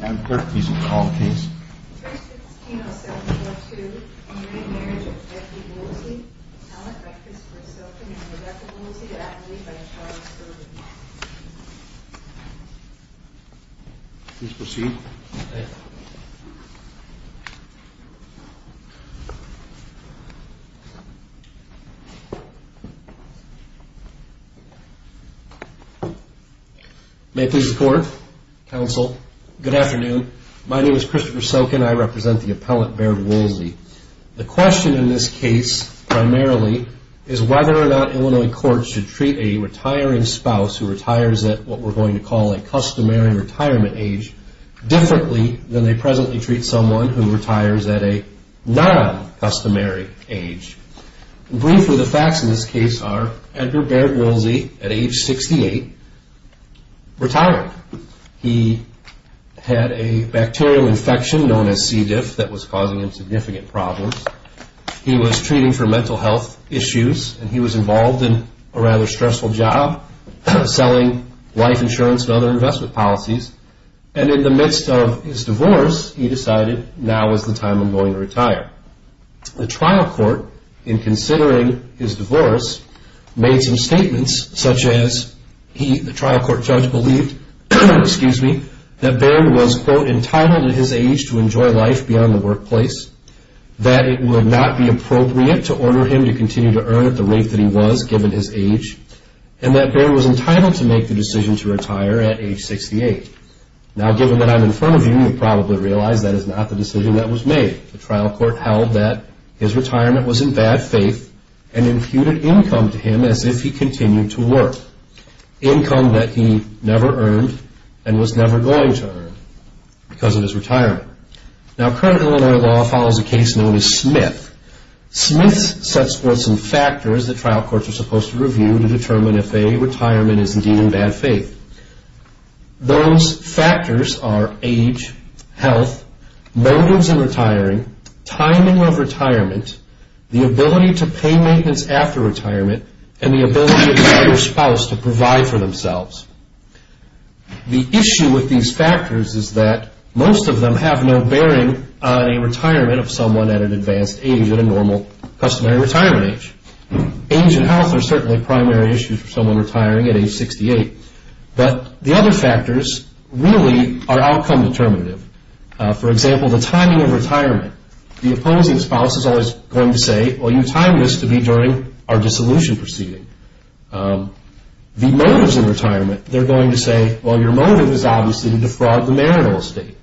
Ma'am Clerk, please recall the case. First, it's Kino-Silk, No. 2. In re Marriage of Becky Woolsey, Talent Breakfast for Silken and Reductibility to Adelaide by Charles Sterling. Please proceed. Thank you. May it please the Court, Counsel, good afternoon. My name is Christopher Silken. I represent the appellate, Baird Woolsey. The question in this case, primarily, is whether or not Illinois courts should treat a retiring spouse who retires at what we're going to call a customary retirement age differently than they presently treat someone who retires at a non-customary age. Briefly, the facts in this case are, Edgar Baird Woolsey, at age 68, retired. He had a bacterial infection known as C. diff that was causing him significant problems. He was treating for mental health issues, and he was involved in a rather stressful job selling life insurance and other investment policies. And in the midst of his divorce, he decided, now is the time I'm going to retire. The trial court, in considering his divorce, made some statements such as, the trial court judge believed, excuse me, that Baird was, quote, that it would not be appropriate to order him to continue to earn at the rate that he was given his age, and that Baird was entitled to make the decision to retire at age 68. Now, given that I'm in front of you, you probably realize that is not the decision that was made. The trial court held that his retirement was in bad faith and imputed income to him as if he continued to work. Income that he never earned and was never going to earn because of his retirement. Now, current Illinois law follows a case known as Smith. Smith sets forth some factors the trial courts are supposed to review to determine if a retirement is indeed in bad faith. Those factors are age, health, motives in retiring, timing of retirement, the ability to pay maintenance after retirement, and the ability of the spouse to provide for themselves. The issue with these factors is that most of them have no bearing on a retirement of someone at an advanced age at a normal customary retirement age. Age and health are certainly primary issues for someone retiring at age 68. But the other factors really are outcome determinative. For example, the timing of retirement. The opposing spouse is always going to say, well, you timed this to be during our dissolution proceeding. The motives in retirement, they're going to say, well, your motive is obviously to defraud the marital estate.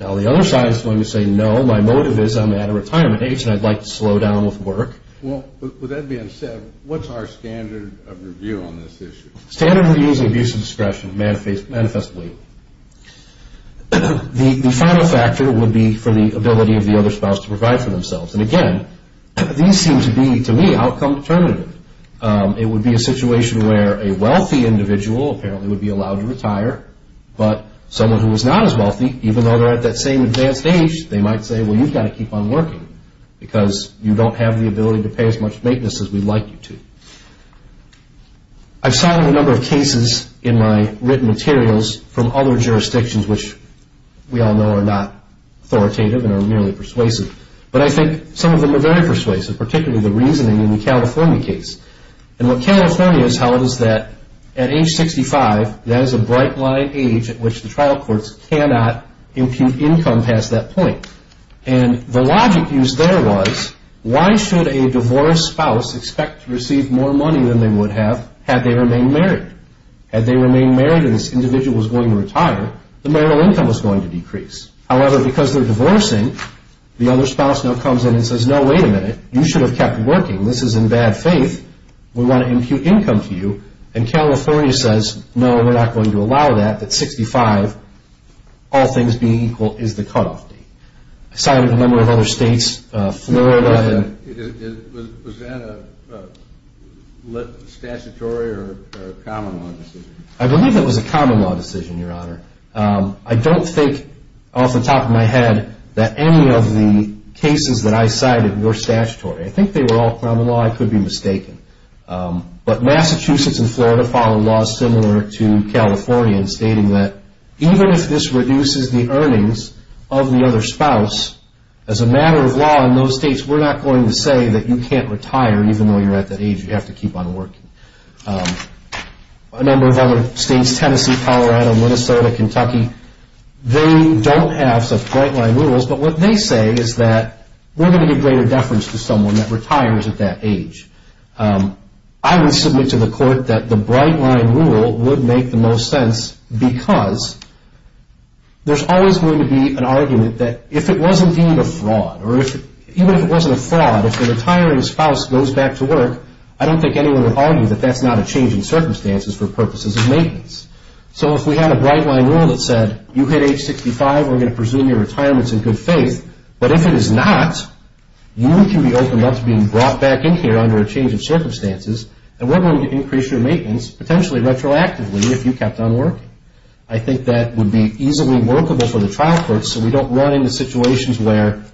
Now, the other side is going to say, no, my motive is I'm at a retirement age and I'd like to slow down with work. Well, with that being said, what's our standard of review on this issue? Standard review is abuse of discretion manifestly. The final factor would be for the ability of the other spouse to provide for themselves. And again, these seem to be, to me, outcome determinative. It would be a situation where a wealthy individual apparently would be allowed to retire, but someone who is not as wealthy, even though they're at that same advanced age, they might say, well, you've got to keep on working because you don't have the ability to pay as much maintenance as we'd like you to. I've cited a number of cases in my written materials from other jurisdictions, which we all know are not authoritative and are merely persuasive. But I think some of them are very persuasive, particularly the reasoning in the California case. And what California has held is that at age 65, that is a bright line age at which the trial courts cannot impute income past that point. And the logic used there was, why should a divorced spouse expect to receive more money than they would have had they remained married? Had they remained married and this individual was going to retire, the marital income was going to decrease. However, because they're divorcing, the other spouse now comes in and says, no, wait a minute, you should have kept working. This is in bad faith. We want to impute income to you. And California says, no, we're not going to allow that at 65, all things being equal, is the cutoff date. I cited a number of other states, Florida. Was that a statutory or common law decision? I believe it was a common law decision, Your Honor. I don't think off the top of my head that any of the cases that I cited were statutory. I think they were all common law. I could be mistaken. But Massachusetts and Florida follow laws similar to California in stating that even if this reduces the earnings of the other spouse, as a matter of law in those states, we're not going to say that you can't retire even though you're at that age. You have to keep on working. A number of other states, Tennessee, Colorado, Minnesota, Kentucky, they don't have such bright line rules, but what they say is that we're going to give greater deference to someone that retires at that age. I would submit to the court that the bright line rule would make the most sense because there's always going to be an argument that if it was indeed a fraud, or even if it wasn't a fraud, if the retiring spouse goes back to work, I don't think anyone would argue that that's not a change in circumstances for purposes of maintenance. So if we had a bright line rule that said you hit age 65, we're going to presume your retirement's in good faith, but if it is not, you can be opened up to being brought back in here under a change of circumstances, and we're going to increase your maintenance, potentially retroactively, if you kept on working. I think that would be easily workable for the trial courts so we don't run into situations where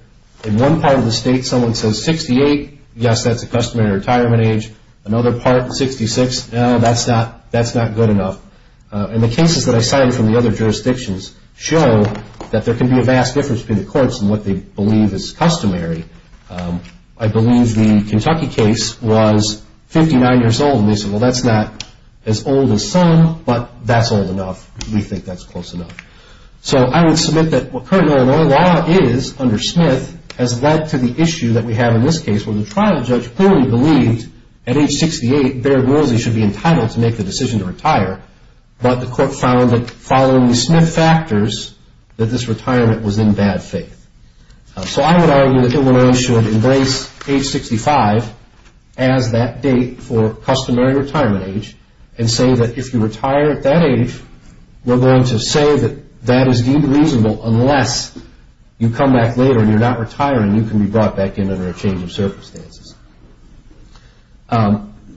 in one part of the state, someone says 68, yes, that's a customary retirement age. Another part, 66, no, that's not good enough. And the cases that I cited from the other jurisdictions show that there can be a vast difference between the courts and what they believe is customary. I believe the Kentucky case was 59 years old, and they said, well, that's not as old as some, but that's old enough. We think that's close enough. So I would submit that what current Illinois law is under Smith has led to the issue that we have in this case where the trial judge clearly believed at age 68, Baird Woolsey should be entitled to make the decision to retire, but the court found that following the Smith factors, that this retirement was in bad faith. So I would argue that Illinois should embrace age 65 as that date for customary retirement age and say that if you retire at that age, we're going to say that that is deemed reasonable unless you come back later and you're not retiring, you can be brought back in under a change of circumstances.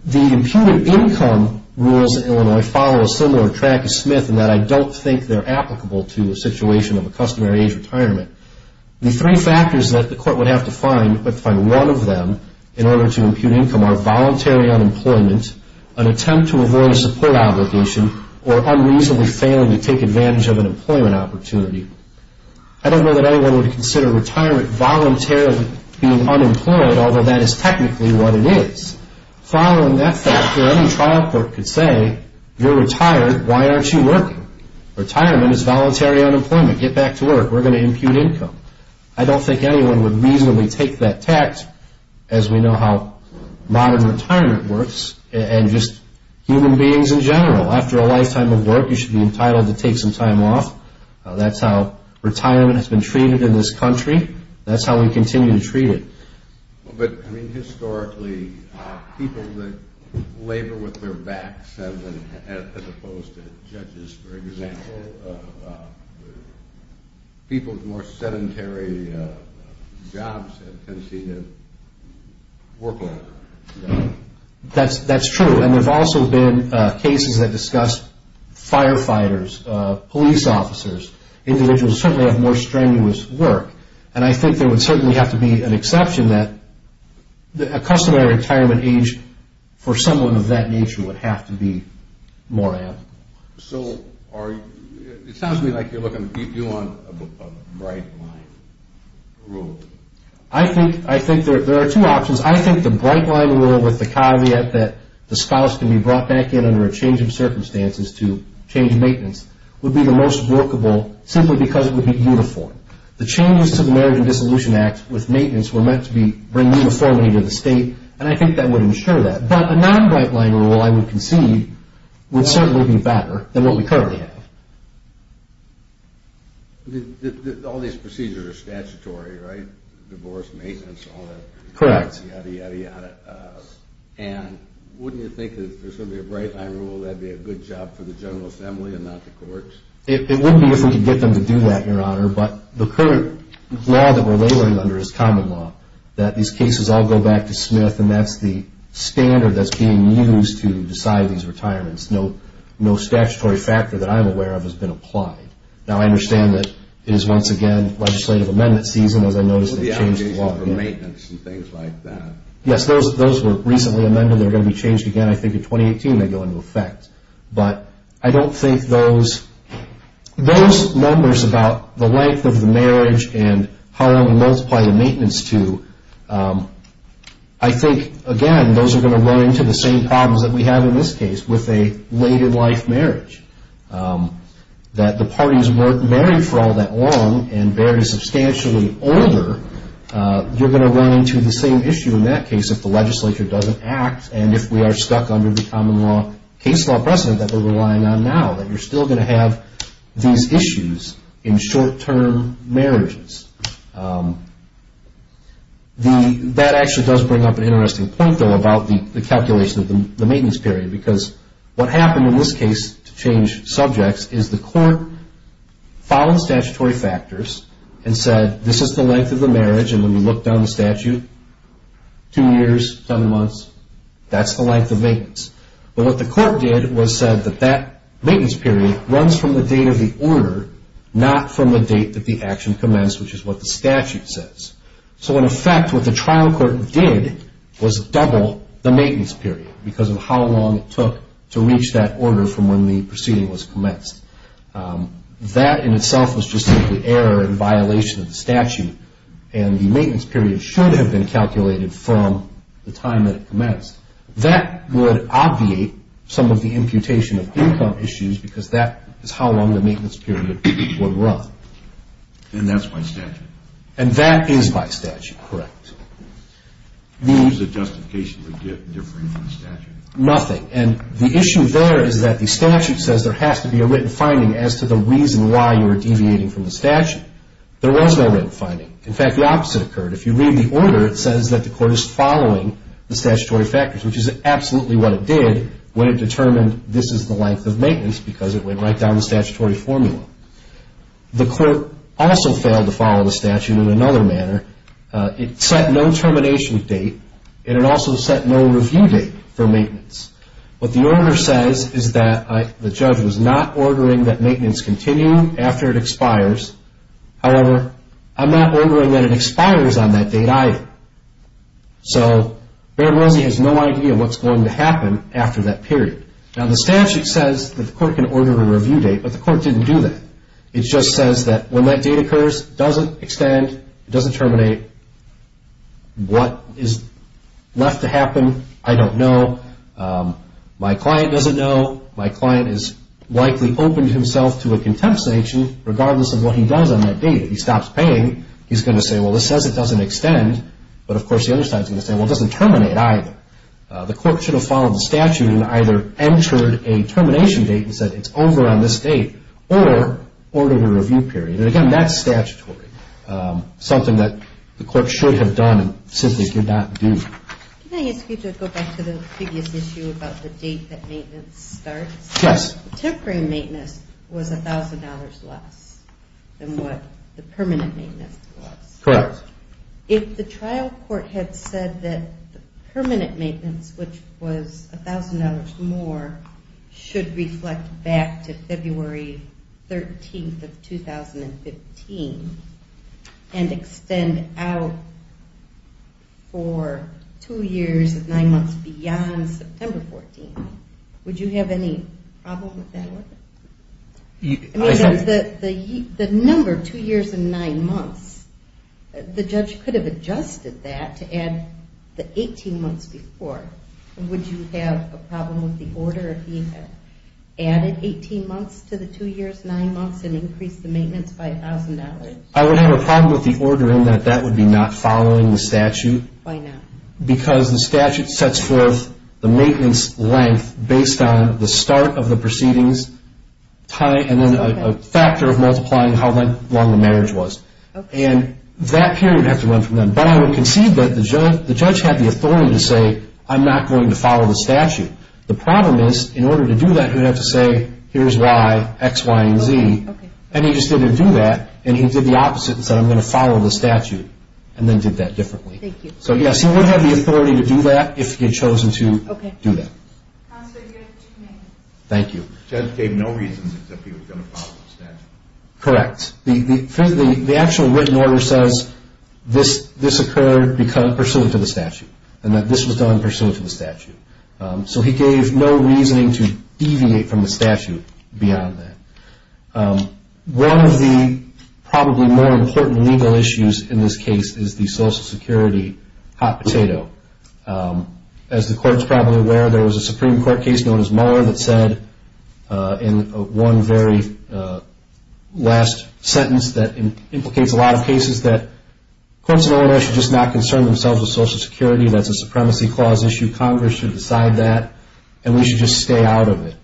The imputed income rules in Illinois follow a similar track as Smith in that I don't think they're applicable to a situation of a customary age retirement. The three factors that the court would have to find, but find one of them in order to impute income, are voluntary unemployment, an attempt to avoid a support obligation, or unreasonably failing to take advantage of an employment opportunity. I don't know that anyone would consider retirement voluntarily being unemployed, although that is technically what it is. Following that factor, any trial court could say, you're retired, why aren't you working? Retirement is voluntary unemployment. Get back to work. We're going to impute income. I don't think anyone would reasonably take that tact, as we know how modern retirement works, and just human beings in general. After a lifetime of work, you should be entitled to take some time off. That's how retirement has been treated in this country. That's how we continue to treat it. But, I mean, historically, people that labor with their backs, as opposed to judges, for example, people with more sedentary jobs tend to see them work longer. That's true, and there have also been cases that discuss firefighters, police officers, individuals who certainly have more strenuous work, and I think there would certainly have to be an exception that a customary retirement age for someone of that nature would have to be more ample. So it sounds to me like you're looking to keep you on a bright line rule. I think there are two options. I think the bright line rule with the caveat that the spouse can be brought back in under a change of circumstances to change maintenance would be the most workable, simply because it would be uniform. The changes to the Marriage and Dissolution Act with maintenance were meant to bring uniformity to the state, and I think that would ensure that. But a non-bright line rule, I would concede, would certainly be better than what we currently have. All these procedures are statutory, right? Divorce, maintenance, all that. Yada, yada, yada. And wouldn't you think that if there's going to be a bright line rule, that would be a good job for the general assembly and not the courts? It wouldn't be if we could get them to do that, Your Honor, but the current law that we're laboring under is common law, that these cases all go back to Smith, and that's the standard that's being used to decide these retirements. No statutory factor that I'm aware of has been applied. Now, I understand that it is once again legislative amendment season, as I noticed they changed the law. Well, the application for maintenance and things like that. Yes, those were recently amended. They're going to be changed again, I think, in 2018, they go into effect. But I don't think those numbers about the length of the marriage and how long we multiply the maintenance to, I think, again, those are going to run into the same problems that we have in this case with a later life marriage, that the parties weren't married for all that long and Baird is substantially older. You're going to run into the same issue in that case if the legislature doesn't act and if we are stuck under the common law case law precedent that we're relying on now, that you're still going to have these issues in short-term marriages. That actually does bring up an interesting point, though, about the calculation of the maintenance period because what happened in this case to change subjects is the court followed statutory factors and said this is the length of the marriage, and when we look down the statute, two years, seven months, that's the length of maintenance. But what the court did was said that that maintenance period runs from the date of the order, not from the date that the action commenced, which is what the statute says. So, in effect, what the trial court did was double the maintenance period because of how long it took to reach that order from when the proceeding was commenced. That, in itself, was just simply error and violation of the statute, and the maintenance period should have been calculated from the time that it commenced. That would obviate some of the imputation of income issues because that is how long the maintenance period would run. And that's by statute? And that is by statute, correct. What is the justification for differing from the statute? Nothing, and the issue there is that the statute says there has to be a written finding as to the reason why you are deviating from the statute. There was no written finding. In fact, the opposite occurred. If you read the order, it says that the court is following the statutory factors, which is absolutely what it did when it determined this is the length of maintenance because it went right down the statutory formula. The court also failed to follow the statute in another manner. It set no termination date, and it also set no review date for maintenance. What the order says is that the judge was not ordering that maintenance continue after it expires. However, I'm not ordering that it expires on that date either. So, Barron-Mosey has no idea what's going to happen after that period. Now, the statute says that the court can order a review date, but the court didn't do that. It just says that when that date occurs, it doesn't extend, it doesn't terminate. What is left to happen, I don't know. My client doesn't know. My client has likely opened himself to a contempt sanction regardless of what he does on that date. If he stops paying, he's going to say, well, this says it doesn't extend. But, of course, the other side is going to say, well, it doesn't terminate either. The court should have followed the statute and either entered a termination date and said it's over on this date or ordered a review period. And, again, that's statutory, something that the court should have done and simply could not do. Can I ask you to go back to the previous issue about the date that maintenance starts? Yes. Temporary maintenance was $1,000 less than what the permanent maintenance was. Correct. If the trial court had said that permanent maintenance, which was $1,000 more, should reflect back to February 13th of 2015 and extend out for two years and nine months beyond September 14th, would you have any problem with that order? I mean, the number, two years and nine months, the judge could have adjusted that to add the 18 months before. Would you have a problem with the order if he had added 18 months to the two years, nine months, and increased the maintenance by $1,000? I would have a problem with the order in that that would be not following the statute. Why not? Because the statute sets forth the maintenance length based on the start of the proceedings, and then a factor of multiplying how long the marriage was. And that period would have to run from then. But I would concede that the judge had the authority to say, I'm not going to follow the statute. The problem is, in order to do that, he would have to say, here's why, X, Y, and Z. And he just didn't do that, and he did the opposite and said, I'm going to follow the statute, and then did that differently. So, yes, he would have the authority to do that if he had chosen to do that. Counselor, you have two minutes. Thank you. The judge gave no reason that he was going to follow the statute. Correct. The actual written order says this occurred pursuant to the statute, and that this was done pursuant to the statute. So he gave no reasoning to deviate from the statute beyond that. One of the probably more important legal issues in this case is the Social Security hot potato. As the Court is probably aware, there was a Supreme Court case known as Mueller that said, in one very last sentence that implicates a lot of cases, that courts in Illinois should just not concern themselves with Social Security, that's a supremacy clause issue, Congress should decide that, and we should just stay out of it.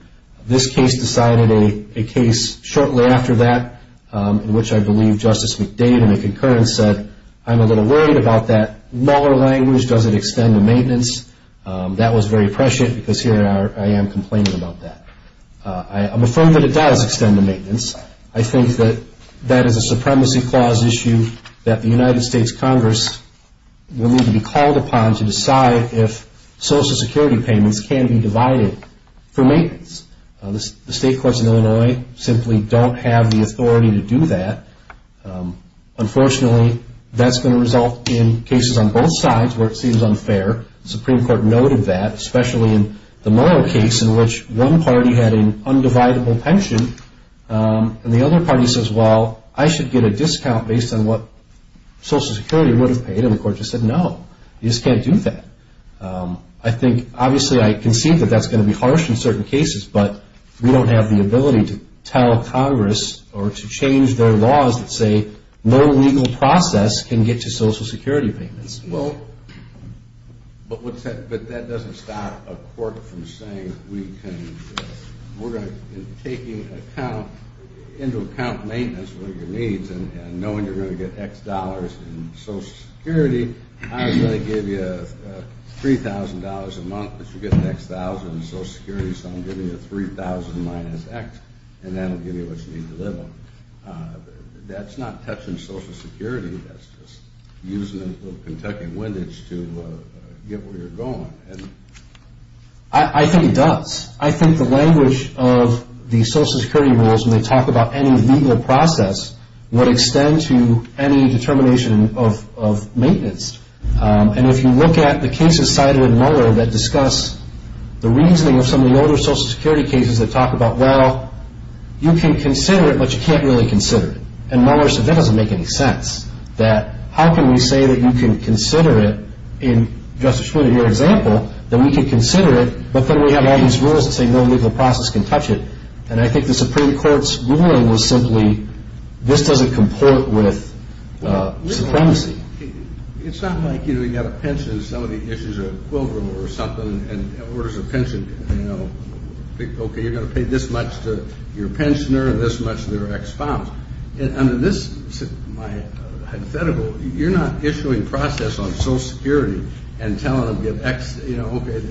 This case decided a case shortly after that, in which I believe Justice McDade in a concurrence said, I'm a little worried about that. Mueller language doesn't extend to maintenance. That was very prescient, because here I am complaining about that. I'm affirmed that it does extend to maintenance. I think that that is a supremacy clause issue that the United States Congress will need to be called upon The state courts in Illinois simply don't have the authority to do that. Unfortunately, that's going to result in cases on both sides where it seems unfair. The Supreme Court noted that, especially in the Mueller case, in which one party had an undividable pension, and the other party says, well, I should get a discount based on what Social Security would have paid, and the Court just said, no, you just can't do that. I think, obviously, I can see that that's going to be harsh in certain cases, but we don't have the ability to tell Congress or to change their laws that say, no legal process can get to Social Security payments. Well, but that doesn't stop a court from saying, we're going to take into account maintenance with your needs, and knowing you're going to get X dollars in Social Security, I'm going to give you $3,000 a month because you're getting X thousand in Social Security, so I'm giving you 3,000 minus X, and that will give you what you need to live on. That's not touching Social Security. That's just using a little Kentucky windage to get where you're going. I think it does. I think the language of the Social Security rules when they talk about any legal process would extend to any determination of maintenance, and if you look at the cases cited in Mueller that discuss the reasoning of some of the older Social Security cases that talk about, well, you can consider it, but you can't really consider it, and Mueller said, that doesn't make any sense, that how can we say that you can consider it in, just to show you an example, that we can consider it, but then we have all these rules that say no legal process can touch it, and I think the Supreme Court's ruling was simply, this doesn't comport with supremacy. It's not like, you know, you've got a pension, and some of the issues are equivalent or something, and orders of pension, you know, okay, you're going to pay this much to your pensioner and this much to their ex-father, and under this, my hypothetical, you're not issuing process on Social Security and telling them, you know, okay,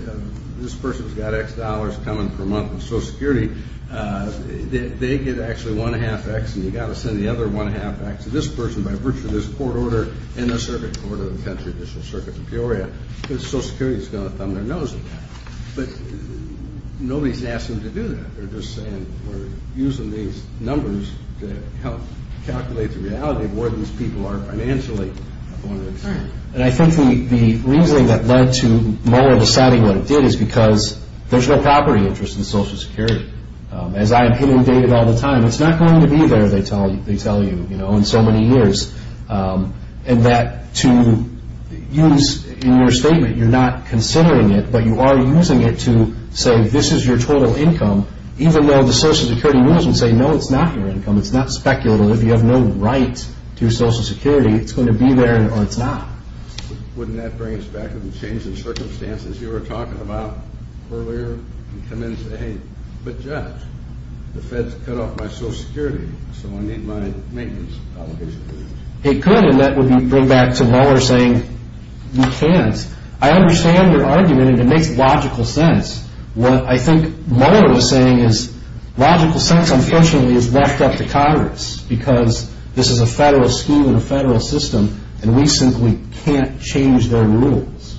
this person's got X dollars coming per month from Social Security, they get actually one-half X, and you've got to send the other one-half back to this person by virtue of this court order in the circuit court of the country, the Circuit of Peoria, because Social Security's going to thumb their nose at that, but nobody's asked them to do that. They're just saying, we're using these numbers to help calculate the reality of where these people are financially. And I think the reasoning that led to Mueller deciding what it did is because there's no property interest in Social Security. As I am hitting David all the time, it's not going to be there, they tell you, you know, in so many years, and that to use in your statement, you're not considering it, but you are using it to say, this is your total income, even though the Social Security rules would say, no, it's not your income, it's not speculative, if you have no right to Social Security, it's going to be there, or it's not. Wouldn't that bring us back to the change in circumstances you were talking about earlier, and come in and say, hey, but Judge, the Fed's cut off my Social Security, so I need my maintenance obligation. It could, and that would bring back to Mueller saying, you can't. I understand your argument, and it makes logical sense. What I think Mueller was saying is, logical sense, unfortunately, is left up to Congress, because this is a federal scheme in a federal system, and we simply can't change their rules.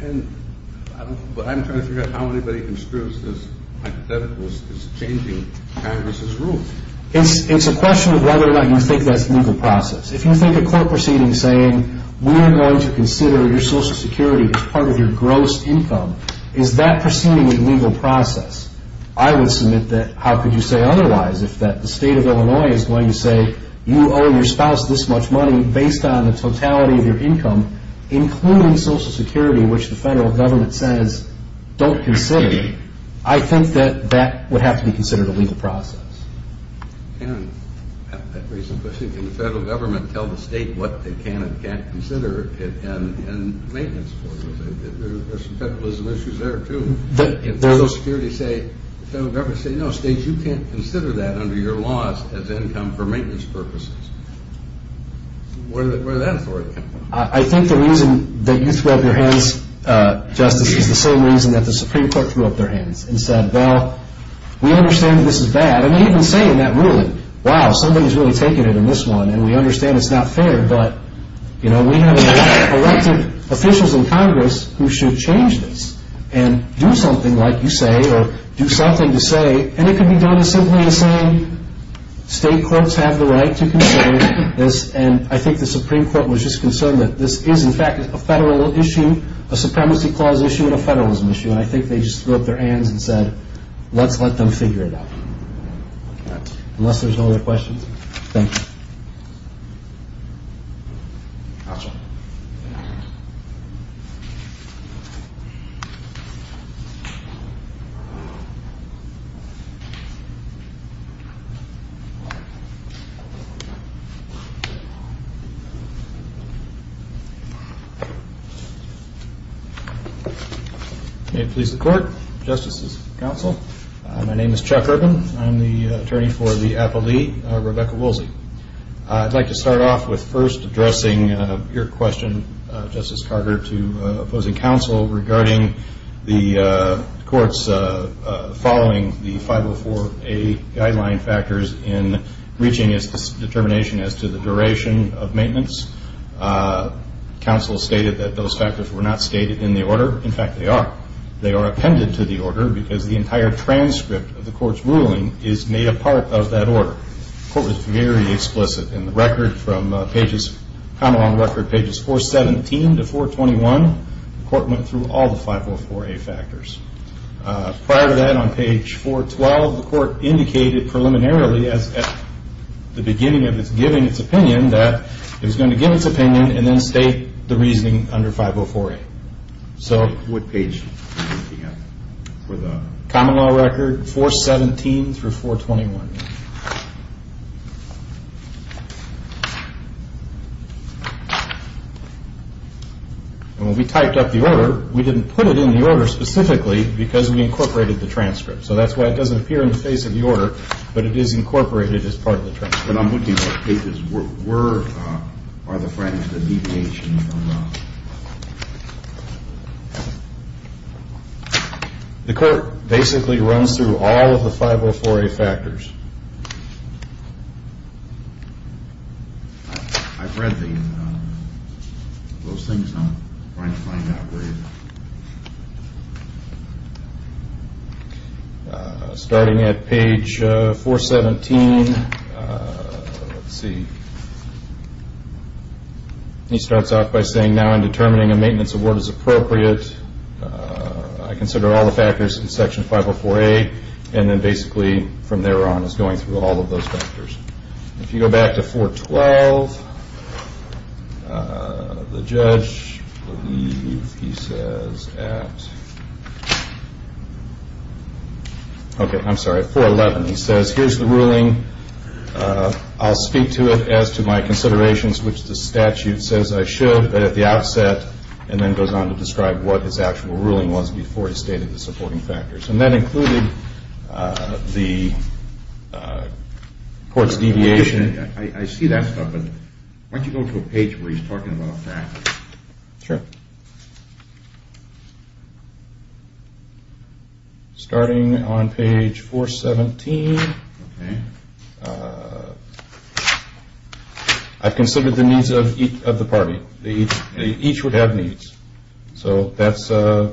But I'm trying to figure out how anybody construes this hypothetical as changing Congress's rules. It's a question of whether or not you think that's legal process. If you think a court proceeding saying, we are going to consider your Social Security as part of your gross income, is that proceeding a legal process? I would submit that, how could you say otherwise? If the state of Illinois is going to say, you owe your spouse this much money, based on the totality of your income, including Social Security, which the federal government says, don't consider, I think that that would have to be considered a legal process. And a recent question, can the federal government tell the state what they can and can't consider in maintenance? There's some federalism issues there, too. If Social Security say, the federal government say, no, states, you can't consider that under your laws as income for maintenance purposes. Where does that authority come from? I think the reason that you threw up your hands, Justice, is the same reason that the Supreme Court threw up their hands and said, well, we understand that this is bad. And they even say in that ruling, wow, somebody's really taking it in this one, and we understand it's not fair, but, you know, we have elected officials in Congress who should change this and do something like you say or do something to say. And it can be done as simply as saying, state courts have the right to consider this. And I think the Supreme Court was just concerned that this is, in fact, a federal issue, a supremacy clause issue and a federalism issue. And I think they just threw up their hands and said, let's let them figure it out. Unless there's no other questions. Thank you. May it please the Court, Justices, Counsel. My name is Chuck Urban. I'm the attorney for the appellee, Rebecca Woolsey. I'd like to start off with first addressing your question, Justice Carter, to opposing counsel regarding the courts following the 504A guideline factors in reaching its determination as to the duration of maintenance. Counsel stated that those factors were not stated in the order. In fact, they are. They are appended to the order because the entire transcript of the court's ruling is made a part of that order. The court was very explicit in the record from pages, come along record pages 417 to 421, the court went through all the 504A factors. Prior to that, on page 412, the court indicated preliminarily as at the beginning of its giving its opinion that it was going to give its opinion and then state the reasoning under 504A. What page are you looking at? Common law record 417 through 421. When we typed up the order, we didn't put it in the order specifically because we incorporated the transcript. So that's why it doesn't appear in the face of the order, but it is incorporated as part of the transcript. But I'm looking at pages, where are the fragments of the deviation? The court basically runs through all of the 504A factors. I've read those things. I'm trying to find out where they are. Starting at page 417, let's see. He starts off by saying now in determining a maintenance award is appropriate, I consider all the factors in section 504A and then basically from there on is going through all of those factors. If you go back to 412, the judge, I believe he says at 411, he says here's the ruling. I'll speak to it as to my considerations, which the statute says I should, but at the outset and then goes on to describe what his actual ruling was before he stated the supporting factors. And that included the court's deviation. I see that stuff, but why don't you go to a page where he's talking about factors. Sure. Starting on page 417, I've considered the needs of the party. Each would have needs. So that's, I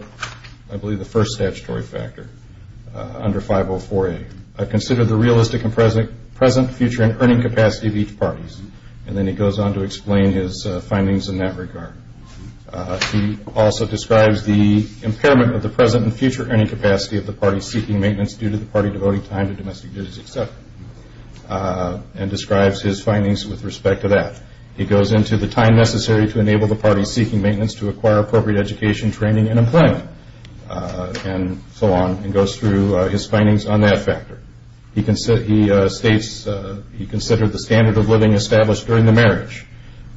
believe, the first statutory factor under 504A. I've considered the realistic and present future and earning capacity of each party. And then he goes on to explain his findings in that regard. He also describes the impairment of the present and future earning capacity of the party seeking maintenance due to the party devoting time to domestic duties, etc. And describes his findings with respect to that. He goes into the time necessary to enable the party seeking maintenance to acquire appropriate education, training, and employment, and so on, and goes through his findings on that factor. He states he considered the standard of living established during the marriage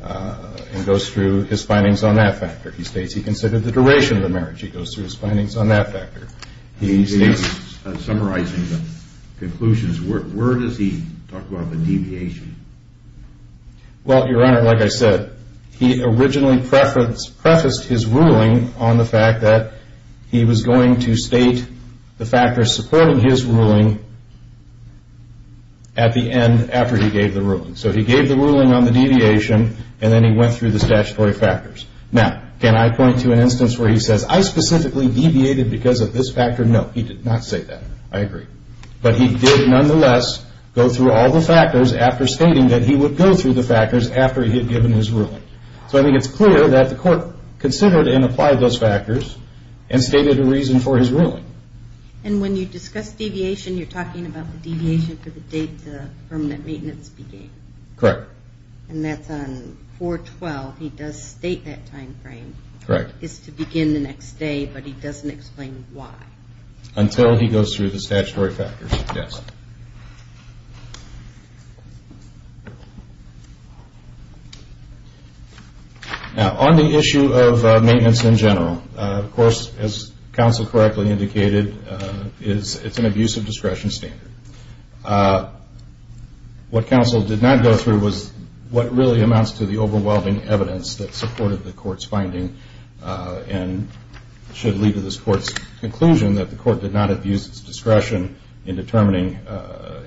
and goes through his findings on that factor. He states he considered the duration of the marriage. He goes through his findings on that factor. He states, summarizing the conclusions, where does he talk about the deviation? Well, Your Honor, like I said, he originally prefaced his ruling on the fact that he was going to state the factors supporting his ruling at the end after he gave the ruling. So he gave the ruling on the deviation and then he went through the statutory factors. Now, can I point to an instance where he says, I specifically deviated because of this factor? No, he did not say that. I agree. But he did, nonetheless, go through all the factors after stating that he would go through the factors after he had given his ruling. So I think it's clear that the court considered and applied those factors and stated a reason for his ruling. And when you discuss deviation, you're talking about the deviation for the date the permanent maintenance began. Correct. And that's on 4-12. He does state that time frame. Correct. It's to begin the next day, but he doesn't explain why. Until he goes through the statutory factors. Yes. Now, on the issue of maintenance in general, of course, as counsel correctly indicated, it's an abusive discretion standard. What counsel did not go through was what really amounts to the overwhelming evidence that supported the court's finding and should lead to this court's conclusion that the court did not abuse its discretion in determining,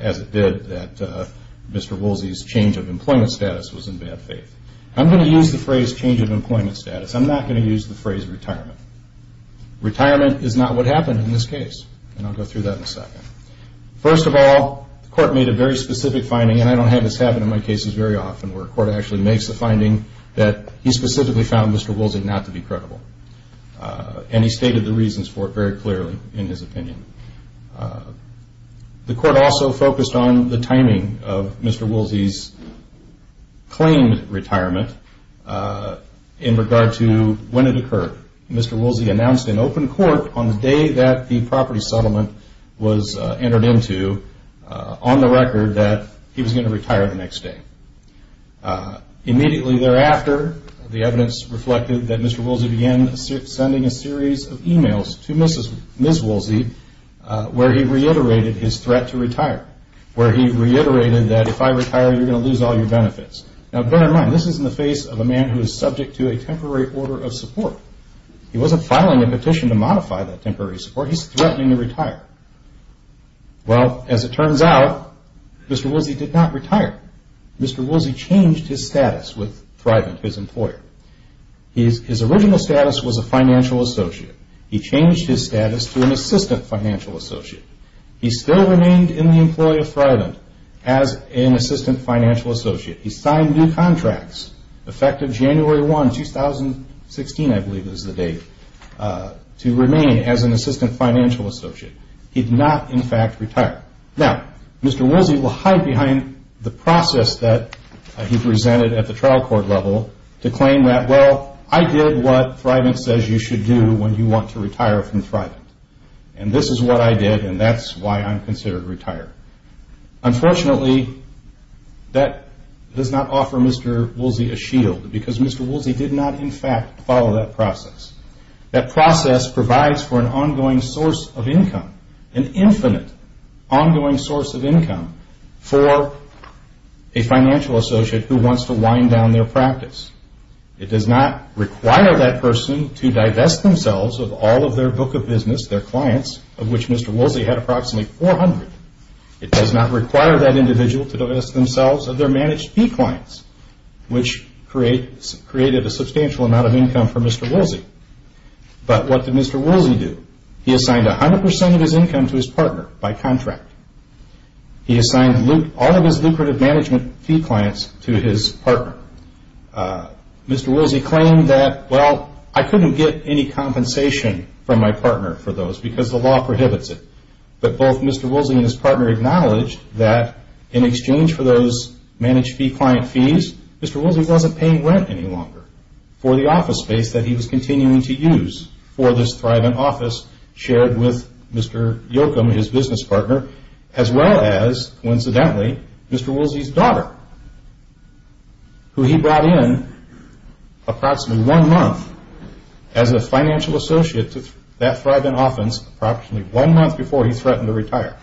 as it did, that Mr. Woolsey's change of employment status was in bad faith. I'm going to use the phrase change of employment status. I'm not going to use the phrase retirement. Retirement is not what happened in this case, and I'll go through that in a second. First of all, the court made a very specific finding, and I don't have this happen in my cases very often, where a court actually makes a finding that he specifically found Mr. Woolsey not to be credible. And he stated the reasons for it very clearly in his opinion. The court also focused on the timing of Mr. Woolsey's claimed retirement in regard to when it occurred. Mr. Woolsey announced in open court on the day that the property settlement was entered into, on the record, that he was going to retire the next day. Immediately thereafter, the evidence reflected that Mr. Woolsey began sending a series of emails to Ms. Woolsey where he reiterated his threat to retire, where he reiterated that if I retire, you're going to lose all your benefits. Now bear in mind, this is in the face of a man who is subject to a temporary order of support. He wasn't filing a petition to modify that temporary support. He's threatening to retire. Well, as it turns out, Mr. Woolsey did not retire. Mr. Woolsey changed his status with Thrivent, his employer. His original status was a financial associate. He changed his status to an assistant financial associate. He still remained in the employ of Thrivent as an assistant financial associate. He signed new contracts effective January 1, 2016, I believe is the date, to remain as an assistant financial associate. He did not, in fact, retire. Now, Mr. Woolsey will hide behind the process that he presented at the trial court level to claim that, well, I did what Thrivent says you should do when you want to retire from Thrivent. And this is what I did, and that's why I'm considered retired. Unfortunately, that does not offer Mr. Woolsey a shield because Mr. Woolsey did not, in fact, follow that process. That process provides for an ongoing source of income, an infinite ongoing source of income, for a financial associate who wants to wind down their practice. It does not require that person to divest themselves of all of their book of business, their clients, of which Mr. Woolsey had approximately 400. It does not require that individual to divest themselves of their managed fee clients, which created a substantial amount of income for Mr. Woolsey. But what did Mr. Woolsey do? He assigned 100 percent of his income to his partner by contract. He assigned all of his lucrative management fee clients to his partner. Mr. Woolsey claimed that, well, I couldn't get any compensation from my partner for those because the law prohibits it. But both Mr. Woolsey and his partner acknowledged that in exchange for those managed fee client fees, Mr. Woolsey wasn't paying rent any longer for the office space that he was continuing to use for this Thrivent office shared with Mr. Yocum, his business partner, as well as, coincidentally, Mr. Woolsey's daughter. Who he brought in approximately one month as a financial associate to that Thrivent office, approximately one month before he threatened to retire.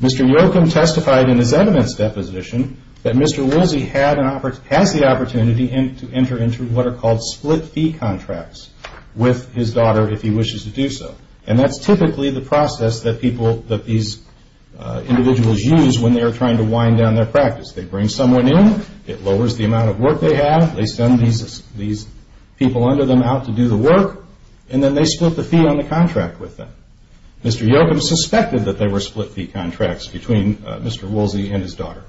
Mr. Yocum testified in his eminence deposition that Mr. Woolsey has the opportunity to enter into what are called split fee contracts with his daughter if he wishes to do so. And that's typically the process that these individuals use when they are trying to wind down their practice. They bring someone in, it lowers the amount of work they have, they send these people under them out to do the work, and then they split the fee on the contract with them. Mr. Yocum suspected that there were split fee contracts between Mr. Woolsey and his daughter.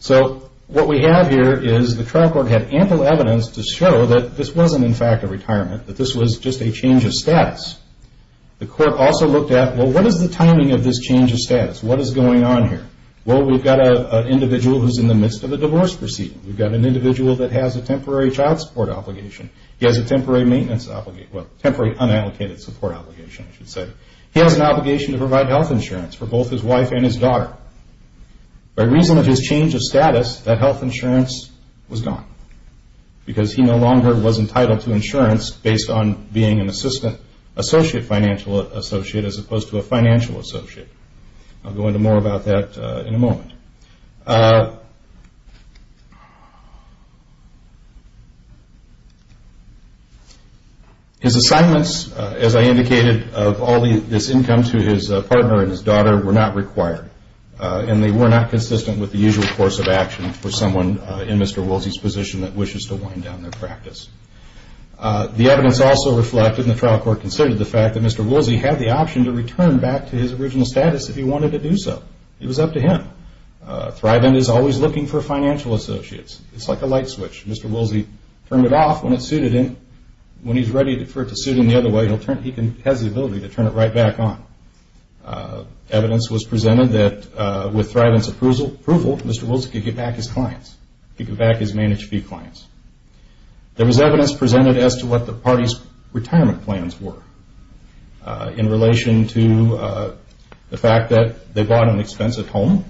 So what we have here is the trial court had ample evidence to show that this wasn't, in fact, a retirement, that this was just a change of status. The court also looked at, well, what is the timing of this change of status? What is going on here? Well, we've got an individual who's in the midst of a divorce proceeding. We've got an individual that has a temporary child support obligation. He has a temporary maintenance obligation, well, temporary unallocated support obligation, I should say. He has an obligation to provide health insurance for both his wife and his daughter. By reason of his change of status, that health insurance was gone. Because he no longer was entitled to insurance based on being an associate financial associate as opposed to a financial associate. I'll go into more about that in a moment. His assignments, as I indicated, of all this income to his partner and his daughter were not required. And they were not consistent with the usual course of action for someone in Mr. Woolsey's position that wishes to wind down their practice. The evidence also reflected, and the trial court considered, the fact that Mr. Woolsey had the option to return back to his original status if he wanted to do so. It was up to him. Thrive End is always looking for financial associates. It's like a light switch. Mr. Woolsey turned it off when it suited him. When he's ready for it to suit him the other way, he has the ability to turn it right back on. Evidence was presented that with Thrive End's approval, Mr. Woolsey could get back his clients. He could get back his managed fee clients. There was evidence presented as to what the party's retirement plans were in relation to the fact that they bought an expensive home,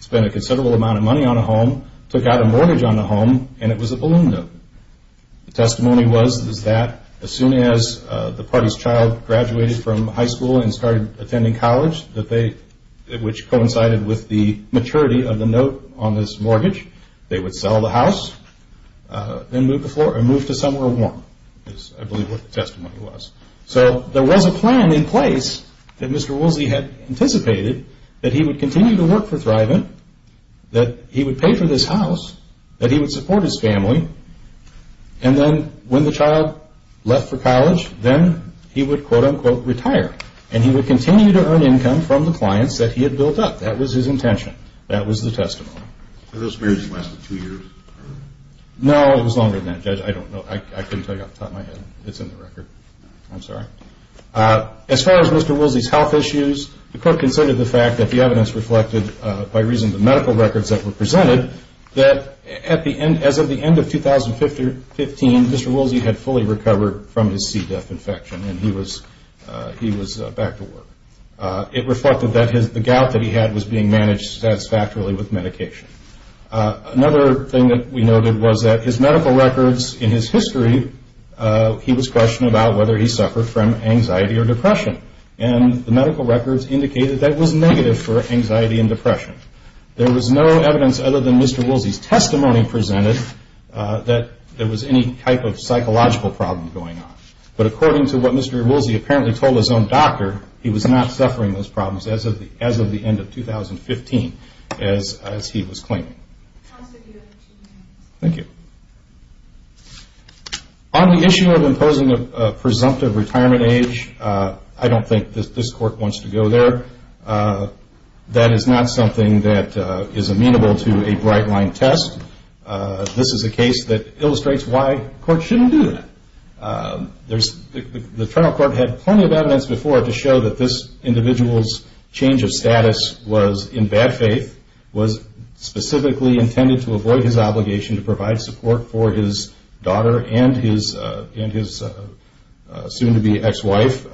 spent a considerable amount of money on a home, took out a mortgage on the home, and it was a balloon note. The testimony was that as soon as the party's child graduated from high school and started attending college, which coincided with the maturity of the note on this mortgage, they would sell the house and move to somewhere warm is, I believe, what the testimony was. So there was a plan in place that Mr. Woolsey had anticipated, that he would continue to work for Thrive End, that he would pay for this house, that he would support his family, and then when the child left for college, then he would, quote, unquote, retire, and he would continue to earn income from the clients that he had built up. That was his intention. That was the testimony. Were those marriages lasted two years? No, it was longer than that, Judge. I don't know. I couldn't tell you off the top of my head. It's in the record. I'm sorry. As far as Mr. Woolsey's health issues, the court considered the fact that the evidence reflected, by reason of the medical records that were presented, that as of the end of 2015, Mr. Woolsey had fully recovered from his C. diff infection, and he was back to work. It reflected that the gout that he had was being managed satisfactorily with medication. Another thing that we noted was that his medical records in his history, he was questioned about whether he suffered from anxiety or depression, and the medical records indicated that was negative for anxiety and depression. There was no evidence other than Mr. Woolsey's testimony presented that there was any type of psychological problem going on. But according to what Mr. Woolsey apparently told his own doctor, he was not suffering those problems as of the end of 2015, as he was claiming. Thank you. On the issue of imposing a presumptive retirement age, I don't think this court wants to go there. That is not something that is amenable to a bright-line test. This is a case that illustrates why courts shouldn't do that. The trial court had plenty of evidence before to show that this individual's change of status was in bad faith, was specifically intended to avoid his obligation to provide support for his daughter and his soon-to-be ex-wife,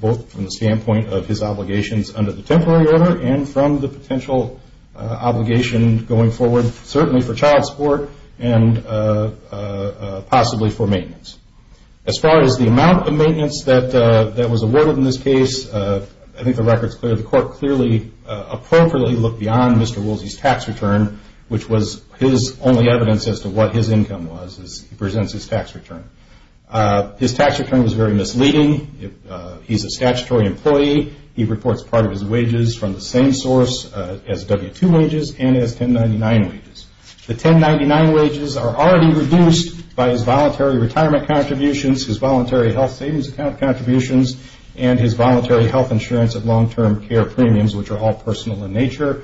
both from the standpoint of his obligations under the temporary order and from the potential obligation going forward, certainly for child support and possibly for maintenance. As far as the amount of maintenance that was awarded in this case, I think the record is clear. The court clearly appropriately looked beyond Mr. Woolsey's tax return, which was his only evidence as to what his income was as he presents his tax return. His tax return was very misleading. He's a statutory employee. He reports part of his wages from the same source as W-2 wages and as 1099 wages. The 1099 wages are already reduced by his voluntary retirement contributions, his voluntary health savings contributions, and his voluntary health insurance and long-term care premiums, which are all personal in nature.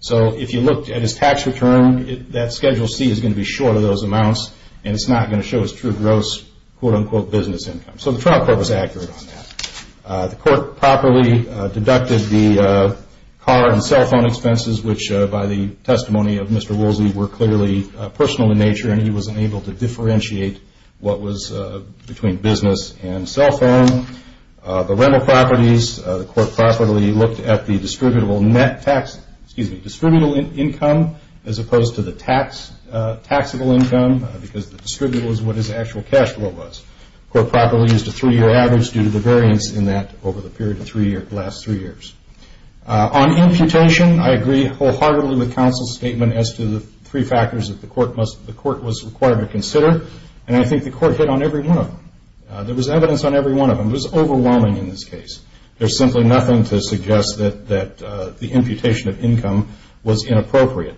So if you looked at his tax return, that Schedule C is going to be short of those amounts, and it's not going to show his true gross quote-unquote business income. So the trial court was accurate on that. The court properly deducted the car and cell phone expenses, which by the testimony of Mr. Woolsey were clearly personal in nature, and he was unable to differentiate what was between business and cell phone. The rental properties, the court properly looked at the distributable net tax, excuse me, distributable income as opposed to the taxable income because the distributable is what his actual cash flow was. The court properly used a three-year average due to the variance in that over the period of the last three years. On amputation, I agree wholeheartedly with counsel's statement as to the three factors that the court was required to consider, and I think the court hit on every one of them. There was evidence on every one of them. It was overwhelming in this case. There's simply nothing to suggest that the amputation of income was inappropriate.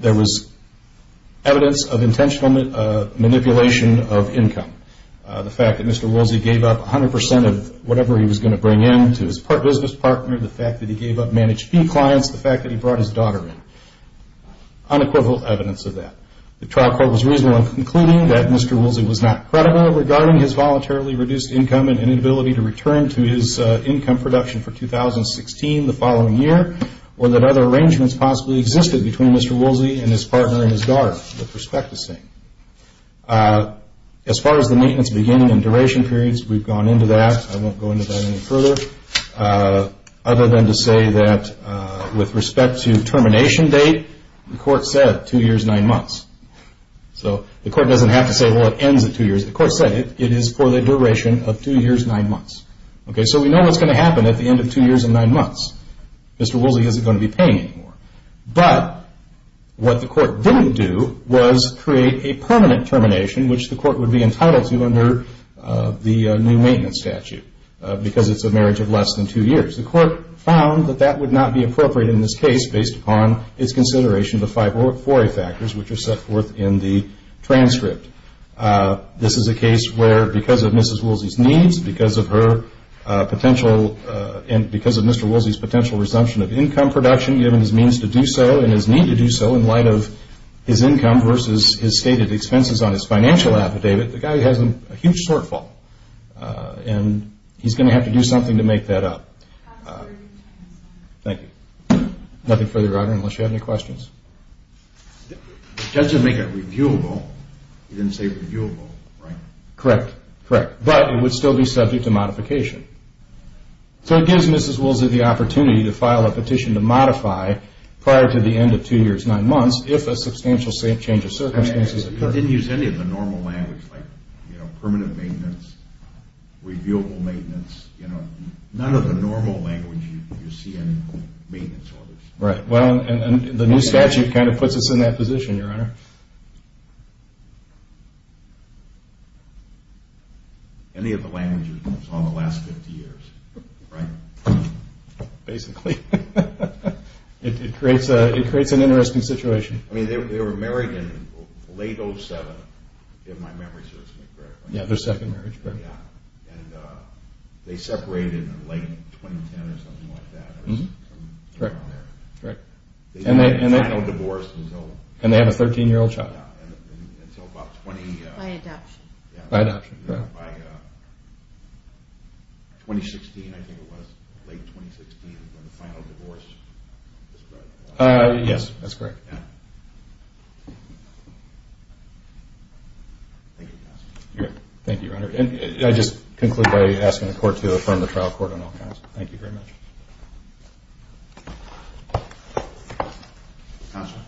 There was evidence of intentional manipulation of income. The fact that Mr. Woolsey gave up 100% of whatever he was going to bring in to his business partner, the fact that he gave up managed fee clients, the fact that he brought his daughter in. Unequivocal evidence of that. The trial court was reasonable in concluding that Mr. Woolsey was not credible regarding his voluntarily reduced income and inability to return to his income production for 2016, the following year, or that other arrangements possibly existed between Mr. Woolsey and his partner and his daughter, the prospectus saying. As far as the maintenance beginning and duration periods, we've gone into that. I won't go into that any further other than to say that with respect to termination date, the court said two years, nine months. So the court doesn't have to say, well, it ends at two years. The court said it is for the duration of two years, nine months. So we know what's going to happen at the end of two years and nine months. Mr. Woolsey isn't going to be paying anymore. But what the court didn't do was create a permanent termination, which the court would be entitled to under the new maintenance statute because it's a marriage of less than two years. The court found that that would not be appropriate in this case based upon its consideration of the five foray factors which are set forth in the transcript. This is a case where because of Mrs. Woolsey's needs, because of her potential and because of Mr. Woolsey's potential resumption of income production, given his means to do so and his need to do so in light of his income versus his stated expenses on his financial affidavit, the guy has a huge shortfall. And he's going to have to do something to make that up. Thank you. Nothing further, Your Honor, unless you have any questions. Does it make it reviewable? You didn't say reviewable, right? Correct. Correct. But it would still be subject to modification. So it gives Mrs. Woolsey the opportunity to file a petition to modify prior to the end of two years, nine months, if a substantial change of circumstances occurs. You didn't use any of the normal language like permanent maintenance, reviewable maintenance. None of the normal language you see in maintenance orders. Right. Well, the new statute kind of puts us in that position, Your Honor. Any of the languages on the last 50 years, right? Basically. It creates an interesting situation. I mean, they were married in late 07, if my memory serves me correctly. Yeah, their second marriage, correct. Yeah. And they separated in late 2010 or something like that. Correct. Correct. They had no divorce until... And they have a 13-year-old child. Until about 20... By adoption. By adoption, correct. And by 2016, I think it was, late 2016, when the final divorce was... Yes, that's correct. Yeah. Thank you, counsel. Thank you, Your Honor. And I just conclude by asking the Court to affirm the trial court on all counts. Thank you very much. Counsel.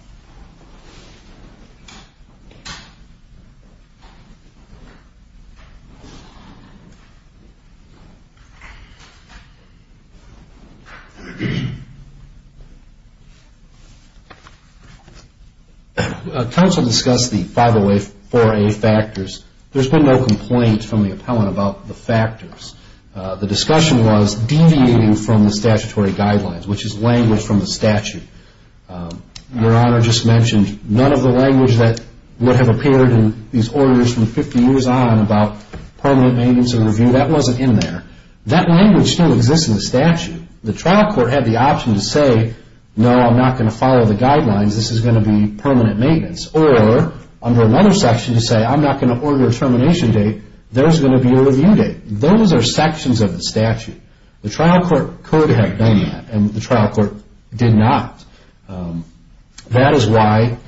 Counsel, discuss the 504A factors. There's been no complaint from the appellant about the factors. The discussion was deviating from the statutory guidelines, which is language from the statute. Your Honor just mentioned none of the language that would have appeared in these orders from 50 years on about permanent maintenance and review. That wasn't in there. That language still exists in the statute. The trial court had the option to say, no, I'm not going to follow the guidelines. This is going to be permanent maintenance. Or under another section to say, I'm not going to order a termination date. There's going to be a review date. Those are sections of the statute. The trial court could have done that, and the trial court did not. That is why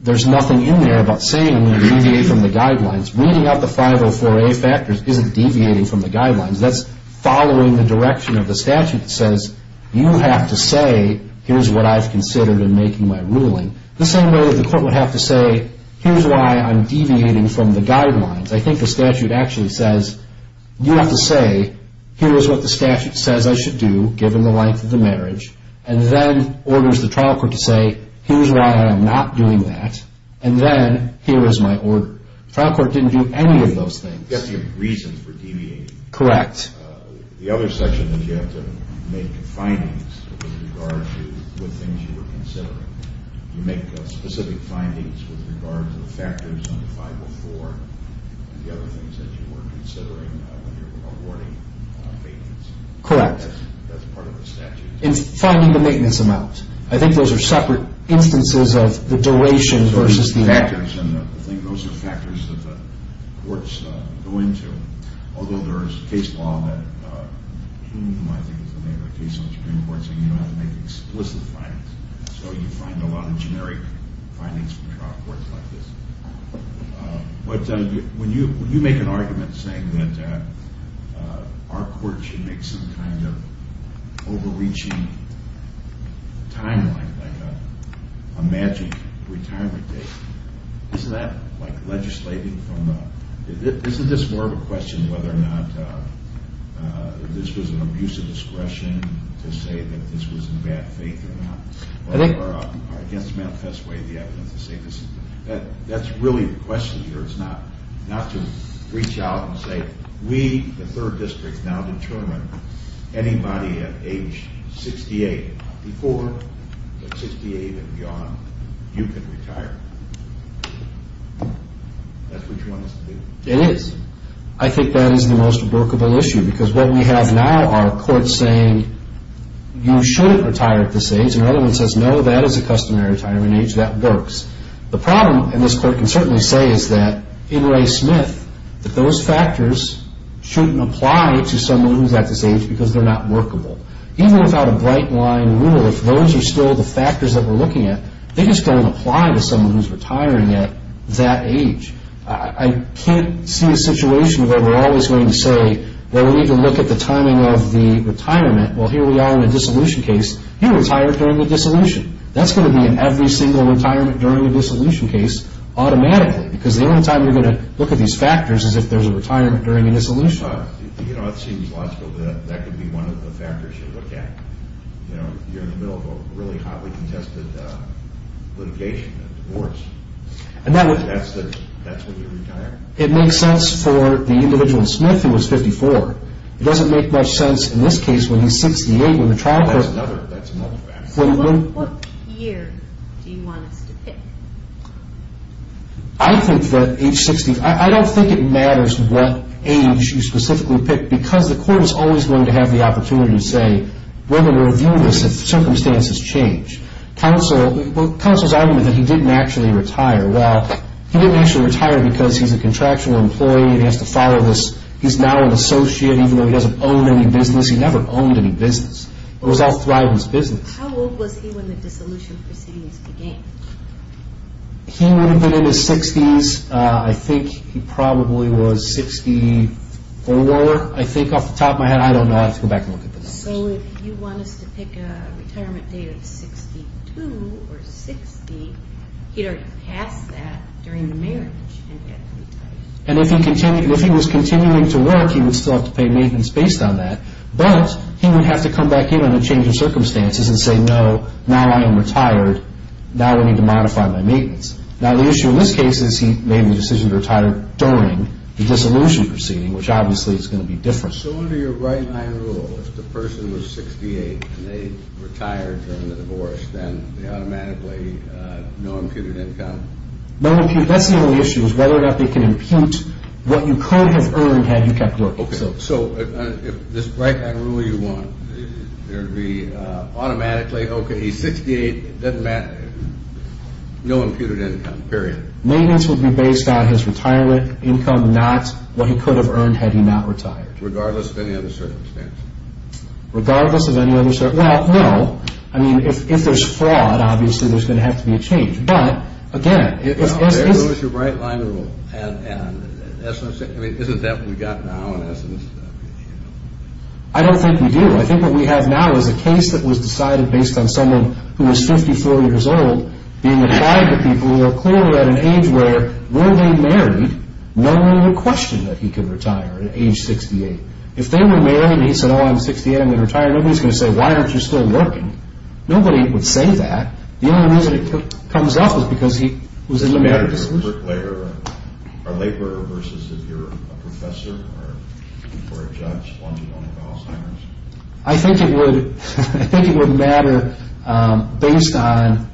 there's nothing in there about saying we're going to deviate from the guidelines. Reading out the 504A factors isn't deviating from the guidelines. That's following the direction of the statute. It says, you have to say, here's what I've considered in making my ruling. The same way that the court would have to say, here's why I'm deviating from the guidelines. I think the statute actually says, you have to say, here is what the statute says I should do, given the length of the marriage, and then orders the trial court to say, here's why I'm not doing that, and then here is my order. The trial court didn't do any of those things. You have to give reason for deviating. Correct. The other section is you have to make findings with regard to what things you were considering. You make specific findings with regard to the factors on the 504, and the other things that you were considering when you were awarding maintenance. Correct. That's part of the statute. And finding the maintenance amount. I think those are separate instances of the duration versus the amount. Those are factors that the courts go into. Although there is a case law that I think is the name of the case on the Supreme Court saying you don't have to make explicit findings. So you find a lot of generic findings from trial courts like this. But when you make an argument saying that our court should make some kind of overreaching timeline, like a magic retirement date, isn't that like legislating from a, isn't this more of a question whether or not this was an abuse of discretion to say that this was in bad faith or not, or against manifest way the evidence to say this. That's really the question here. It's not to reach out and say, we, the third district, now determine anybody at age 68 before, but 68 and beyond, you can retire. That's what you want us to do. It is. I think that is the most workable issue. Because what we have now are courts saying, you shouldn't retire at this age. And the other one says, no, that is a customary retirement age. That works. The problem, and this court can certainly say, is that in Ray Smith, that those factors shouldn't apply to someone who's at this age because they're not workable. Even without a bright line rule, if those are still the factors that we're looking at, they just don't apply to someone who's retiring at that age. I can't see a situation where we're always going to say, well, we need to look at the timing of the retirement. Well, here we are in a dissolution case. You retire during the dissolution. That's going to be in every single retirement during a dissolution case automatically, because the only time you're going to look at these factors is if there's a retirement during a dissolution. It seems logical that that could be one of the factors you look at. You're in the middle of a really hotly contested litigation, a divorce. That's when you retire. It makes sense for the individual in Smith who was 54. It doesn't make much sense in this case when he's 68 when the trial court... That's another factor. What year do you want us to pick? I think that age 60... I don't think it matters what age you specifically pick, because the court is always going to have the opportunity to say, we're going to review this if circumstances change. Counsel's argument that he didn't actually retire. Well, he didn't actually retire because he's a contractual employee and he has to follow this. He's now an associate, even though he doesn't own any business. He never owned any business. It was all thriving business. How old was he when the dissolution proceedings began? He would have been in his 60s. I think he probably was 64. I think off the top of my head, I don't know. I'll have to go back and look at the numbers. So if you want us to pick a retirement date of 62 or 60, he'd already passed that during the marriage. And if he was continuing to work, he would still have to pay maintenance based on that. But he would have to come back in under changing circumstances and say, no, now I am retired. Now I need to modify my maintenance. Now the issue in this case is he made the decision to retire during the dissolution proceeding, which obviously is going to be different. So under your right-hand rule, if the person was 68 and they retired during the divorce, then they automatically no imputed income? No impute. That's the only issue is whether or not they can impute what you could have earned had you kept working. Okay, so if this right-hand rule you want, there would be automatically, okay, he's 68, doesn't matter, no imputed income, period. Maintenance would be based on his retirement income, not what he could have earned had he not retired. Regardless of any other circumstance. Regardless of any other circumstance? Well, no. I mean, if there's fraud, obviously there's going to have to be a change. But, again, if this is... I don't think we do. I think what we have now is a case that was decided based on someone who was 54 years old being applied to people who are clearly at an age where, were they married, no one would question that he could retire at age 68. If they were married and he said, oh, I'm 68, I'm going to retire, nobody's going to say, why aren't you still working? Nobody would say that. The only reason it comes up is because he was in a marriage. Labor versus if you're a professor or a judge, one, you don't have Alzheimer's. I think it would matter based on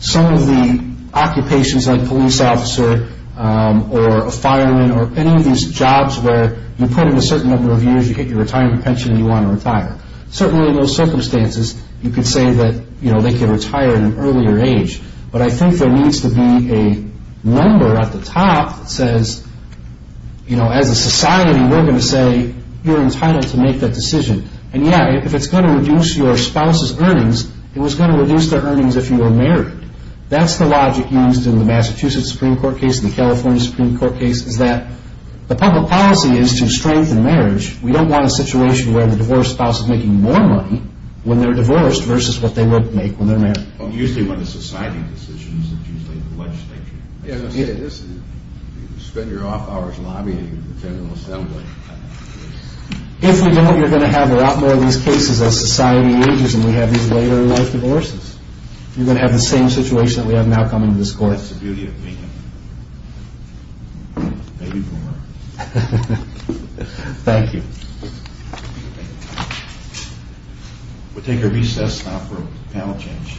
some of the occupations like police officer or a fireman or any of these jobs where you put in a certain number of years, you get your retirement pension, and you want to retire. Certainly in those circumstances, you could say that they could retire at an earlier age. But I think there needs to be a number at the top that says, you know, as a society, we're going to say you're entitled to make that decision. And, yeah, if it's going to reduce your spouse's earnings, it was going to reduce their earnings if you were married. That's the logic used in the Massachusetts Supreme Court case and the California Supreme Court case is that the public policy is to strengthen marriage. We don't want a situation where the divorced spouse is making more money when they're divorced versus what they would make when they're married. Well, usually when it's society decisions, it's usually the legislature. You spend your off hours lobbying the General Assembly. If we don't, you're going to have a lot more of these cases as society ages and we have these later in life divorces. You're going to have the same situation that we have now coming to this court. That's the beauty of being a man. Maybe more. Thank you. We'll take our recess now for a panel change.